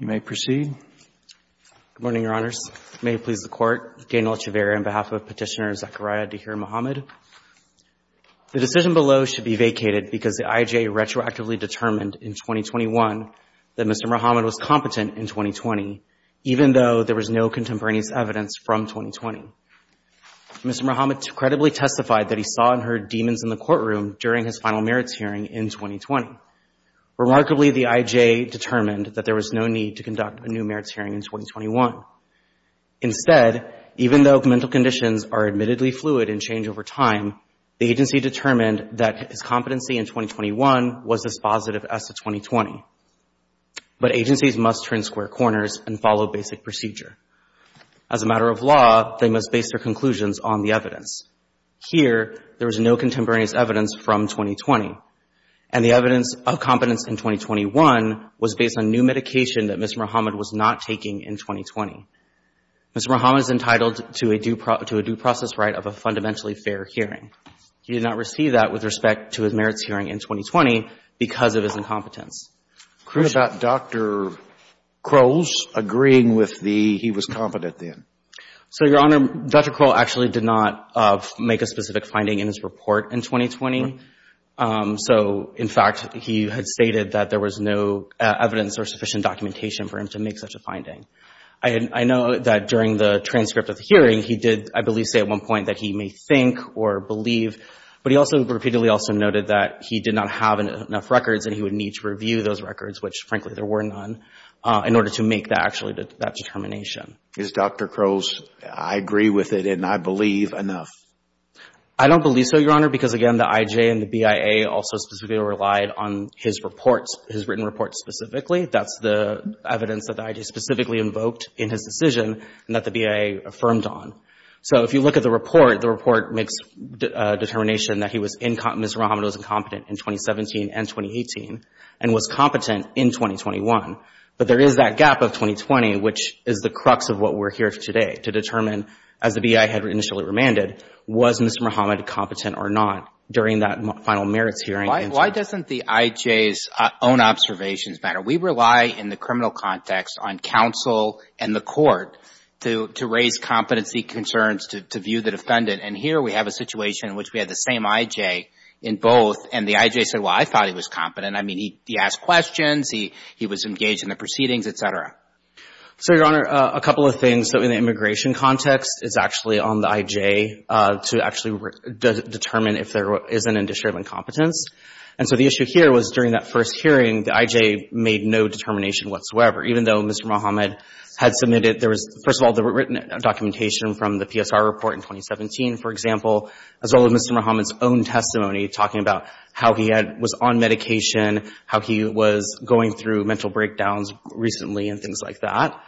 You may proceed. Good morning, Your Honors. May it please the Court, Daniel Echevarria on behalf of Petitioner Zechariah Tahir Mohamed. The decision below should be vacated because the IJA retroactively determined in 2021 that Mr. Mohamed was competent in 2020, even though there was no contemporaneous evidence from 2020. Mr. Mohamed credibly testified that he saw and heard demons in the courtroom during his final merits hearing in 2020. Remarkably, the IJA determined that there was no need to conduct a new merits hearing in 2021. Instead, even though mental conditions are admittedly fluid and change over time, the agency determined that his competency in 2021 was as positive as the 2020. But agencies must turn square corners and follow basic procedure. As a matter of law, they must base their conclusions on the evidence. Here, there was no contemporaneous evidence from 2020. And the evidence of competence in 2021 was based on new medication that Mr. Mohamed was not taking in 2020. Mr. Mohamed is entitled to a due process right of a fundamentally fair hearing. He did not receive that with respect to his merits hearing in 2020 because of his incompetence. What about Dr. Crowell's agreeing with the he was competent then? So Your Honor, Dr. Crowell actually did not make a specific finding in his report in 2020. So in fact, he had stated that there was no evidence or sufficient documentation for him to make such a finding. I know that during the transcript of the hearing, he did, I believe, say at one point that he may think or believe, but he also repeatedly also noted that he did not have enough records and he would need to review those records, which frankly there were none, in order to make that determination. Is Dr. Crowell's I agree with it and I believe enough? I don't believe so, Your Honor, because again, the IJ and the BIA also specifically relied on his reports, his written reports specifically. That's the evidence that the IJ specifically invoked in his decision and that the BIA affirmed on. So if you look at the report, the report makes a determination that he was incompetent, Mr. Muhammad was incompetent in 2017 and 2018 and was competent in 2021, but there is that gap of 2020, which is the crux of what we're here today to determine as the BIA had initially remanded, was Mr. Muhammad competent or not during that final merits hearing? Why doesn't the IJ's own observations matter? We rely in the criminal context on counsel and the court to raise competency concerns, to view the defendant, and here we have a situation in which we had the same IJ in both and the IJ said, well, I thought he was competent. I mean, he asked questions, he was engaged in the proceedings, et cetera. So Your Honor, a couple of things. So in the immigration context, it's actually on the IJ to actually determine if there is an indiscriminate incompetence. And so the issue here was during that first hearing, the IJ made no determination whatsoever, even though Mr. Muhammad had submitted, there was, first of all, the written documentation from the PSR report in 2017, for example, as well as Mr. Muhammad's own testimony talking about how he was on medication, how he was going through mental breakdowns recently and things like that.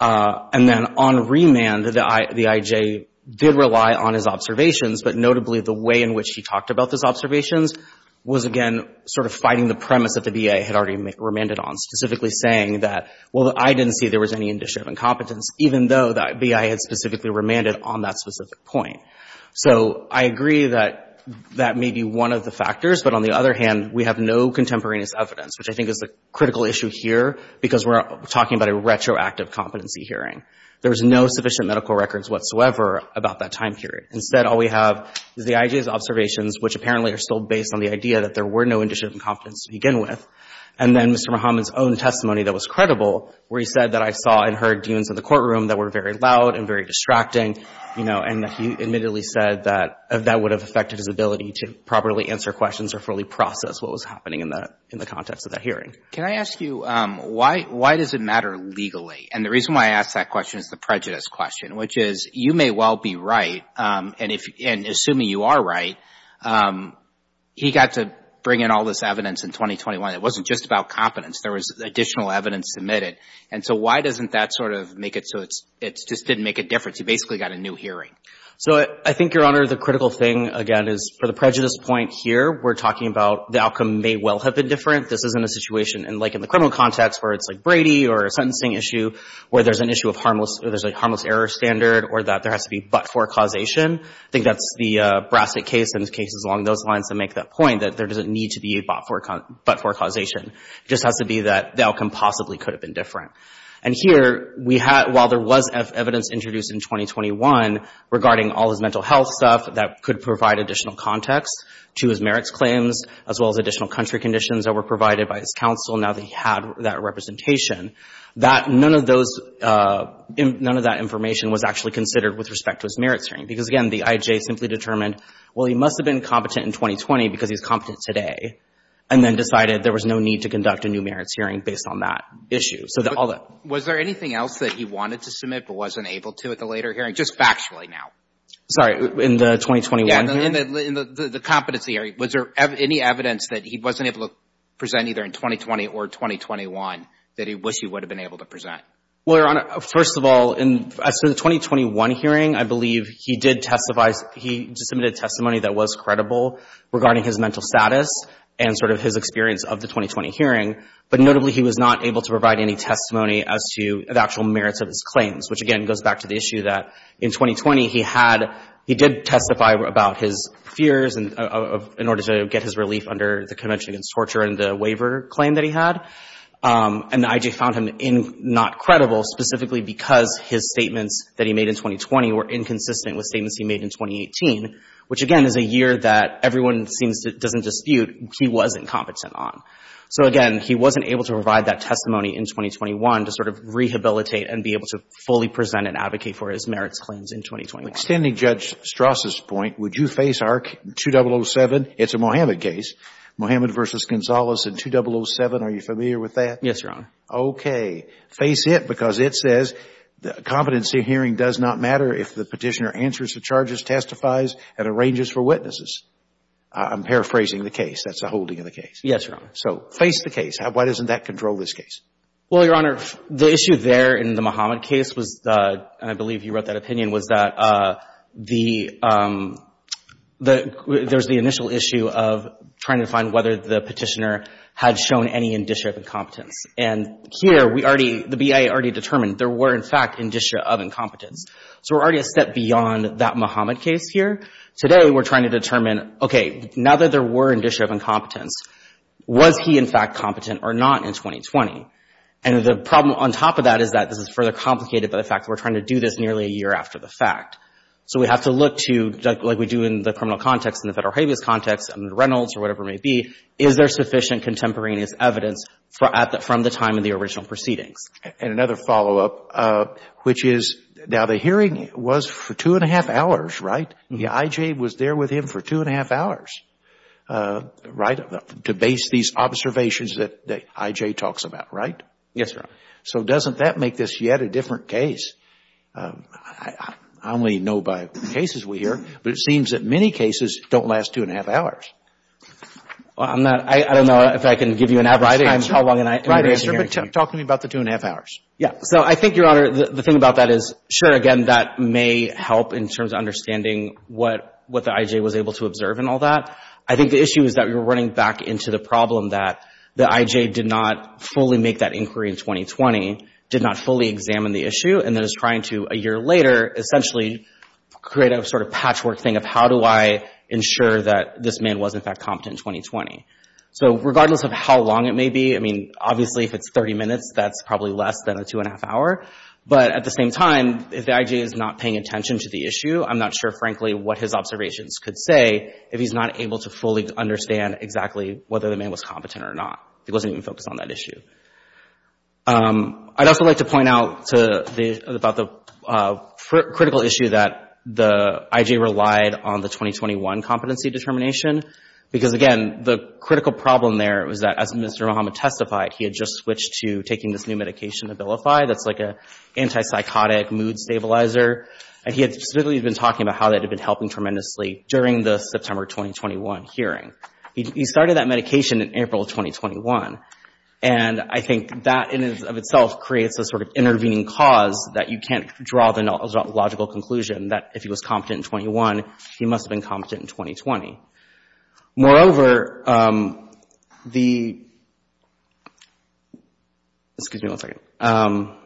And then on remand, the IJ did rely on his observations, but notably the way in which he talked about those observations was, again, sort of fighting the premise that the BI had already remanded on, specifically saying that, well, I didn't see there was any indiscriminate incompetence, even though the BI had specifically remanded on that specific point. So I agree that that may be one of the factors, but on the other hand, we have no contemporaneous evidence, which I think is the critical issue here, because we're talking about a retroactive competency hearing. There's no sufficient medical records whatsoever about that time period. Instead, all we have is the IJ's observations, which apparently are still based on the idea that there were no indiscriminate incompetence to begin with, and then Mr. Muhammad's own testimony that was credible, where he said that I saw and heard demons in the courtroom that were very loud and very distracting, you know, and he admittedly said that that would have affected his ability to properly answer questions or fully process what was happening in the context of that hearing. Can I ask you, why does it matter legally? And the reason why I ask that question is the prejudice question, which is, you may well be right, and assuming you are right, he got to bring in all this evidence in 2021. It wasn't just about competence. There was additional evidence submitted. And so why doesn't that sort of make it so it just didn't make a difference? He basically got a new hearing. So I think, Your Honor, the critical thing, again, is for the prejudice point here, we're talking about the outcome may well have been different. This isn't a situation like in the criminal context, where it's like Brady or a sentencing issue, where there's an issue of harmless, or there's a harmless error standard, or that there has to be but-for causation. I think that's the Brassic case and the cases along those lines that make that point, that there doesn't need to be but-for causation. It just has to be that the outcome possibly could have been different. And here, we had, while there was evidence introduced in 2021 regarding all his mental health stuff, that could provide additional context to his merits claims, as well as additional country conditions that were provided by his counsel, now that he had that representation, that none of those, none of that information was actually considered with respect to his merits hearing. Because, again, the IJ simply determined, well, he must have been competent in 2020 because he's competent today, and then decided there was no need to conduct a new merits hearing based on that issue. So that all that. Was there anything else that he wanted to submit but wasn't able to at the later hearing? Just factually now. Sorry, in the 2021 hearing? Yeah, in the competency hearing. Was there any evidence that he wasn't able to present either in 2020 or 2021 that he wish he would have been able to present? Well, Your Honor, first of all, in the 2021 hearing, I believe he did testify, he submitted testimony that was credible regarding his mental status and sort of his experience of the 2020 hearing. But notably, he was not able to provide any testimony as to the actual merits of his claims, which, again, goes back to the issue that in 2020, he had, he did testify about his fears in order to get his relief under the Convention Against Torture and the waiver claim that he had. And the IJ found him not credible specifically because his statements that he made in 2020 were inconsistent with statements he made in 2018, which again is a year that everyone seems to, doesn't dispute, he was incompetent on. So again, he wasn't able to provide that testimony in 2021 to sort of rehabilitate and be able to fully present and advocate for his merits claims in 2021. Extending Judge Strauss's point, would you face ARC 2007? It's a Mohammed case. Mohammed v. Gonzalez in 2007. Are you familiar with that? Yes, Your Honor. Okay. Face it because it says the competency hearing does not matter if the petitioner answers the charges, testifies, and arranges for witnesses. I'm paraphrasing the case. That's the holding of the case. Yes, Your Honor. So face the case. Why doesn't that control this case? Well, Your Honor, the issue there in the Mohammed case was, and I believe you wrote that opinion, was that the, there's the initial issue of trying to find whether the petitioner had shown any indicia of incompetence. And here we already, the BIA already determined there were in fact indicia of incompetence. So we're already a step beyond that Mohammed case here. Today we're trying to determine, okay, now that there were indicia of incompetence, was he in fact competent or not in 2020? And the problem on top of that is that this is further complicated by the fact that we're trying to do this nearly a year after the fact. So we have to look to, like we do in the criminal context, in the federal habeas context, in Reynolds or whatever it may be, is there sufficient contemporaneous evidence from the time of the original proceedings? And another follow-up, which is, now the hearing was for two and a half hours, right? The I.J. was there with him for two and a half hours, right, to base these observations that I.J. talks about, right? Yes, Your Honor. So doesn't that make this yet a different case? I only know by cases we hear, but it seems that many cases don't last two and a half hours. Well, I'm not, I don't know if I can give you an average time how long an inmate can hear. Right, but talk to me about the two and a half hours. Yeah. So I think, Your Honor, the thing about that is, sure, again, that may help in terms of understanding what the I.J. was able to observe and all that. I think the issue is that we were running back into the problem that the I.J. did not fully make that inquiry in 2020, did not fully examine the issue, and then is trying to, a year later, essentially create a sort of patchwork thing of how do I ensure that this man was, in fact, competent in 2020? So regardless of how long it may be, I mean, obviously, if it's 30 minutes, that's probably less than a two and a half hour. But at the same time, if the I.J. is not paying attention to the issue, I'm not sure, frankly, what his observations could say if he's not able to fully understand exactly whether the man was competent or not. He wasn't even focused on that issue. I'd also like to point out to the—about the critical issue that the I.J. relied on the 2021 competency determination, because, again, the critical problem there was that as Mr. Muhammad testified, he had just switched to taking this new medication, Abilify, that's like an antipsychotic mood stabilizer. And he had specifically been talking about how that had been helping tremendously during the September 2021 hearing. He started that medication in April of 2021. And I think that, in and of itself, creates a sort of intervening cause that you can't draw the logical conclusion that if he was competent in 21, he must have been competent in 2020. Moreover, the—excuse me one second—moreover,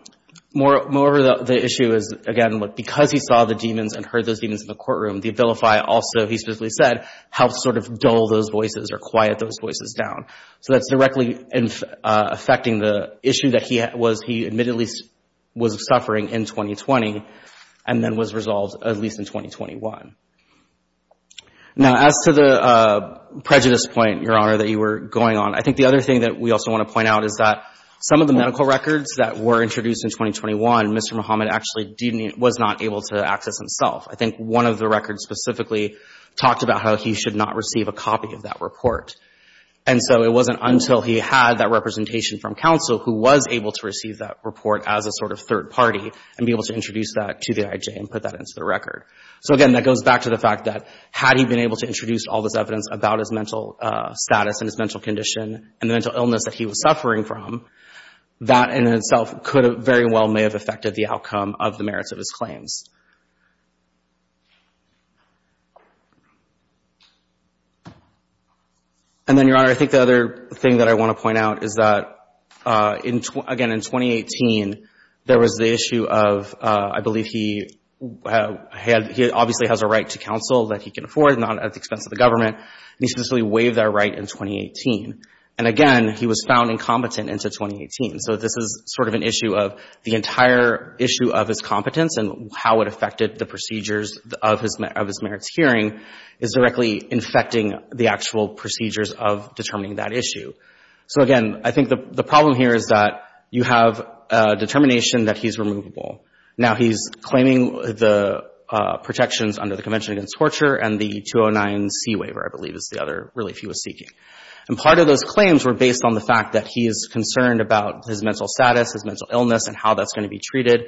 the issue is, again, because he saw the demons and heard those demons in the courtroom, the Abilify also, he specifically said, helped sort of dull those voices or quiet those voices down. So that's directly affecting the issue that he was—he admittedly was suffering in 2020 and then was resolved at least in 2021. Now, as to the prejudice point, Your Honor, that you were going on, I think the other thing that we also want to point out is that some of the medical records that were introduced in 2021, Mr. Muhammad actually didn't—was not able to access himself. I think one of the records specifically talked about how he should not receive a copy of that report. And so it wasn't until he had that representation from counsel who was able to receive that report as a sort of third party and be able to introduce that to the IJ and put that into the record. So, again, that goes back to the fact that had he been able to introduce all this evidence about his mental status and his mental condition and the mental illness that he was suffering from, that in itself could have very well may have affected the outcome of the merits of his claims. And then, Your Honor, I think the other thing that I want to point out is that in—again, in 2018, there was the issue of—I believe he had—he obviously has a right to counsel that he can afford, not at the expense of the government. He essentially waived that right in 2018. And again, he was found incompetent into 2018. So this is sort of an issue of the entire issue of his competence and how it affected the procedures of his merits hearing is directly infecting the actual procedures of determining that issue. So again, I think the problem here is that you have a determination that he's removable. Now he's claiming the protections under the Convention Against Torture and the 209C waiver, I believe is the other relief he was seeking. And part of those claims were based on the fact that he is concerned about his mental status, his mental illness, and how that's going to be treated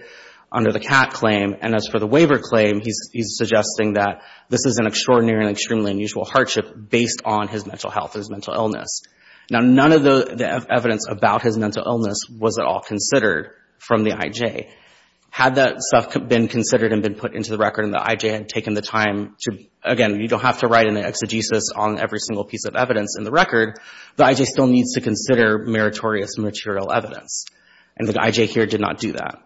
under the CAT claim. And as for the waiver claim, he's suggesting that this is an extraordinary and extremely unusual hardship based on his mental health and his mental illness. Now none of the evidence about his mental illness was at all considered from the IJ. Had that stuff been considered and been put into the record and the IJ had taken the time to, again, you don't have to write an exegesis on every single piece of evidence in the record. The IJ still needs to consider meritorious material evidence. And the IJ here did not do that.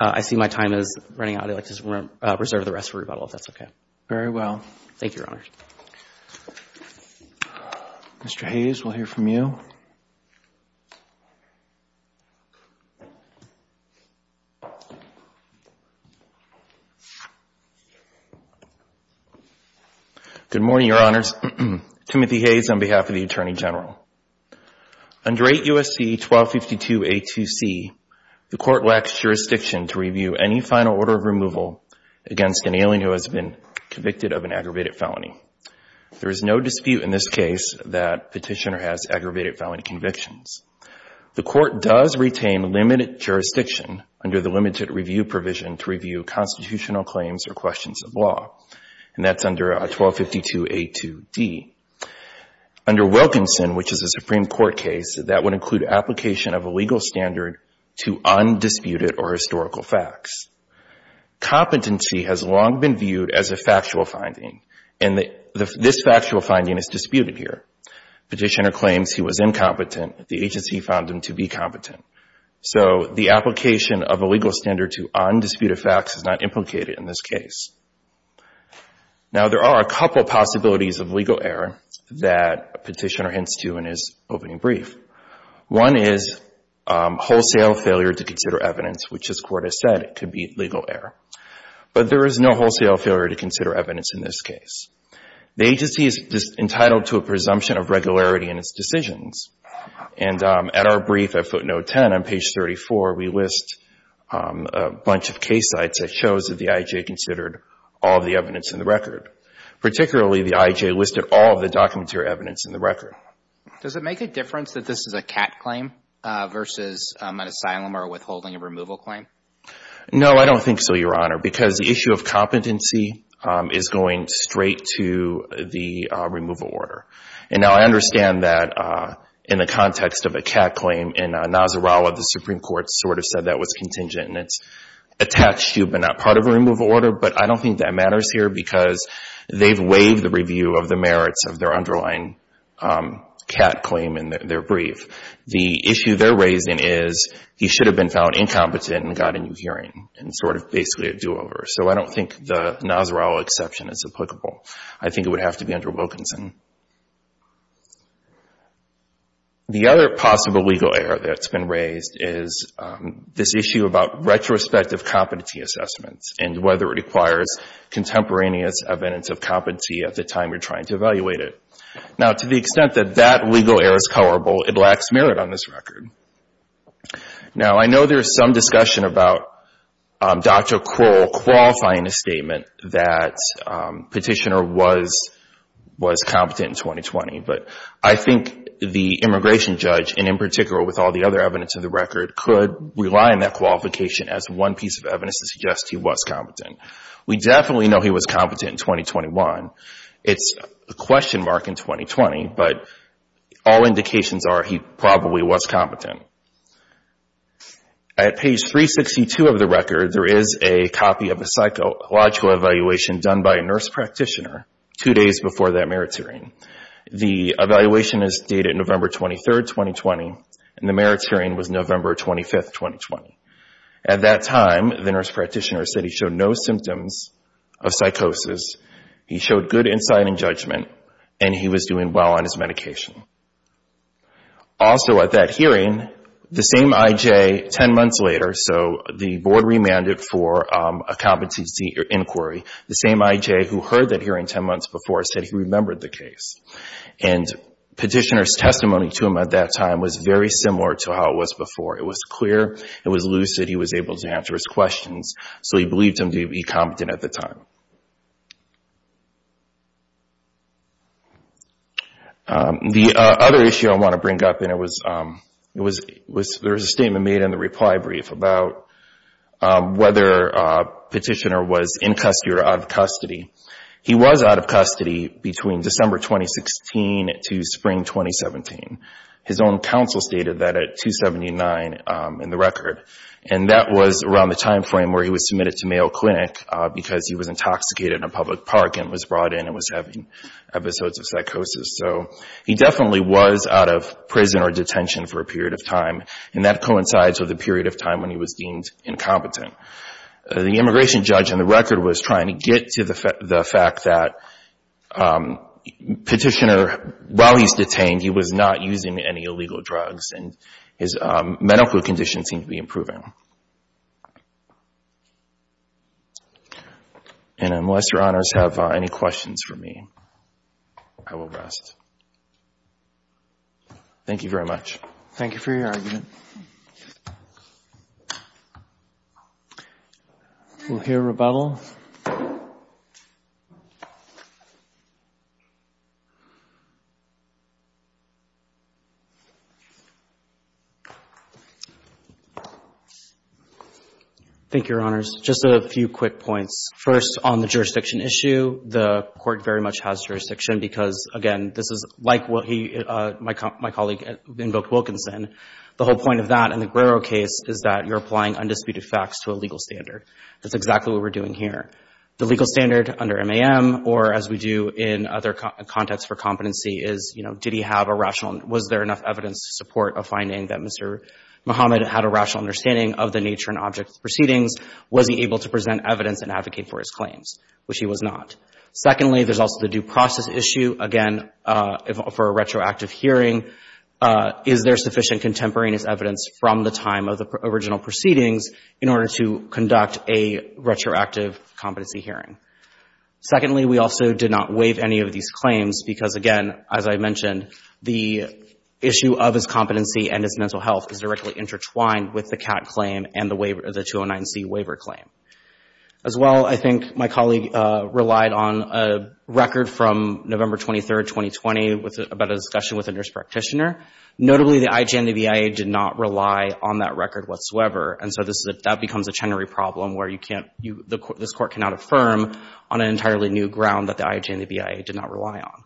I see my time is running out. I'd like to reserve the rest for rebuttal, if that's okay. Very well. Thank you, Your Honor. Mr. Hayes, we'll hear from you. Good morning, Your Honors. Timothy Hayes on behalf of the Attorney General. Under 8 U.S.C. 1252a2c, the Court lacks jurisdiction to review any final order of removal against an alien who has been convicted of an aggravated felony. There is no dispute in this case that Petitioner has aggravated felony convictions. The Court does retain limited jurisdiction under the limited review provision to review constitutional claims or questions of law, and that's under 1252a2d. Under Wilkinson, which is a Supreme Court case, that would include application of a legal standard to undisputed or historical facts. Competency has long been viewed as a factual finding, and this factual finding is disputed here. Petitioner claims he was incompetent. The agency found him to be competent. So the application of a legal standard to undisputed facts is not implicated in this case. Now there are a couple of possibilities of legal error that Petitioner hints to in his opening brief. One is wholesale failure to consider evidence, which this Court has said could be legal error. But there is no wholesale failure to consider evidence in this case. The agency is entitled to a presumption of regularity in its decisions, and at our brief at footnote 10 on page 34, we list a bunch of case sites that shows that the I.I.J. considered all of the evidence in the record, particularly the I.I.J. listed all of the documentary evidence in the record. Does it make a difference that this is a CAT claim versus an asylum or a withholding of removal claim? No, I don't think so, Your Honor, because the issue of competency is going straight to the removal order. And now I understand that in the context of a CAT claim, in Nasrallah, the Supreme Court sort of said that was contingent, and it's attached to but not part of a removal order, but I don't think that matters here because they've waived the review of the merits of their underlying CAT claim in their brief. The issue they're raising is he should have been found incompetent and got a new hearing and sort of basically a do-over. So I don't think the Nasrallah exception is applicable. I think it would have to be under Wilkinson. The other possible legal error that's been raised is this issue about retrospective competency assessments and whether it requires contemporaneous evidence of competency at the time you're trying to evaluate it. Now to the extent that that legal error is coverable, it lacks merit on this record. Now, I know there's some discussion about Dr. Kroll qualifying a statement that Petitioner was competent in 2020, but I think the immigration judge, and in particular with all the other evidence of the record, could rely on that qualification as one piece of evidence to suggest he was competent. We definitely know he was competent in 2021. It's a question mark in 2020, but all indications are he probably was competent. At page 362 of the record, there is a copy of a psychological evaluation done by a nurse practitioner two days before that merit hearing. The evaluation is dated November 23, 2020, and the merit hearing was November 25, 2020. At that time, the nurse practitioner said he showed no symptoms of psychosis. He showed good insight and judgment, and he was doing well on his medication. Also at that hearing, the same I.J. ten months later, so the board remanded for a competency inquiry, the same I.J. who heard that hearing ten months before said he remembered the case. Petitioner's testimony to him at that time was very similar to how it was before. It was clear. It was lucid. He was able to answer his questions, so he believed him to be competent at the time. The other issue I want to bring up, and there was a statement made in the reply brief about whether Petitioner was in custody or out of custody. He was out of custody between December 2016 to spring 2017. His own counsel stated that at 279 in the record, and that was around the time frame where he was submitted to Mayo Clinic because he was intoxicated in a public park and was brought in and was having episodes of psychosis, so he definitely was out of prison or detention for a period of time, and that coincides with a period of time when he was deemed incompetent. The immigration judge in the record was trying to get to the fact that Petitioner, while he's detained, he was not using any illegal drugs, and his medical condition seemed to be improving. And unless Your Honors have any questions for me, I will rest. Thank you very much. Thank you for your argument. We'll hear rebuttal. Thank you, Your Honors. Just a few quick points. First, on the jurisdiction issue, the Court very much has jurisdiction because, again, this is like what my colleague invoked Wilkinson. The whole point of that in the Guerrero case is that you're applying undisputed facts to a legal standard. That's exactly what we're doing here. The legal standard under MAM or, as we do in other contexts for competency, is, you know, did he have a rational — was there enough evidence to support a finding that Mr. Muhammad had a rational understanding of the nature and object of the proceedings? Was he able to present evidence and advocate for his claims, which he was not? Secondly, there's also the due process issue. Again, for a retroactive hearing, is there sufficient contemporaneous evidence from the time of the original proceedings in order to conduct a retroactive competency hearing? Secondly, we also did not waive any of these claims because, again, as I mentioned, the issue of his competency and his mental health is directly intertwined with the CAT claim and the 209C waiver claim. As well, I think my colleague relied on a record from November 23, 2020, about a discussion with a nurse practitioner. Notably, the IJ&VIA did not rely on that record whatsoever, and so this is a — that becomes a Chenery problem where you can't — this Court cannot affirm on an entirely new ground that the IJ&VIA did not rely on.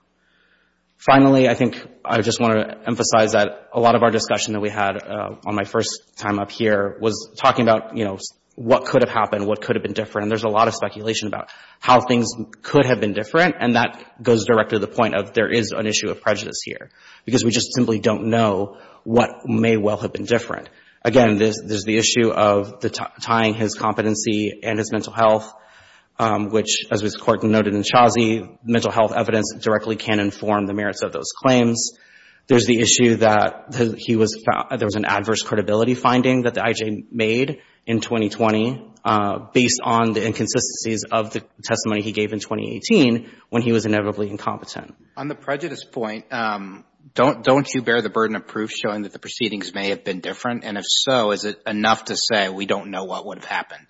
Finally, I think I just want to emphasize that a lot of our discussion that we had on my first time up here was talking about, you know, what could have happened, what could have been different. And there's a lot of speculation about how things could have been different, and that goes directly to the point of there is an issue of prejudice here because we just simply don't know what may well have been different. Again, there's the issue of tying his competency and his mental health, which, as this Court noted in Chauzy, mental health evidence directly can't inform the merits of those claims. There's the issue that he was — there was an adverse credibility finding that the IJ made in 2020 based on the inconsistencies of the testimony he gave in 2018 when he was inevitably incompetent. On the prejudice point, don't you bear the burden of proof showing that the proceedings may have been different? And if so, is it enough to say we don't know what would have happened?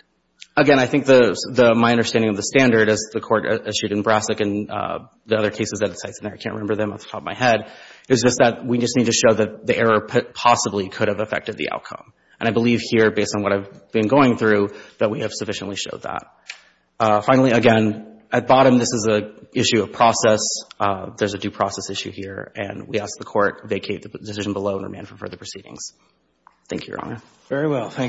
Again, I think the — my understanding of the standard, as the Court eschewed in Brassic and the other cases that it cites — and I can't remember them off the top of my head — is just that we just need to show that the error possibly could have affected the And I believe here, based on what I've been going through, that we have sufficiently showed that. Finally, again, at bottom, this is an issue of process. There's a due process issue here. And we ask the Court vacate the decision below and remand for further proceedings. Thank you, Your Honor. Very well. Thank you.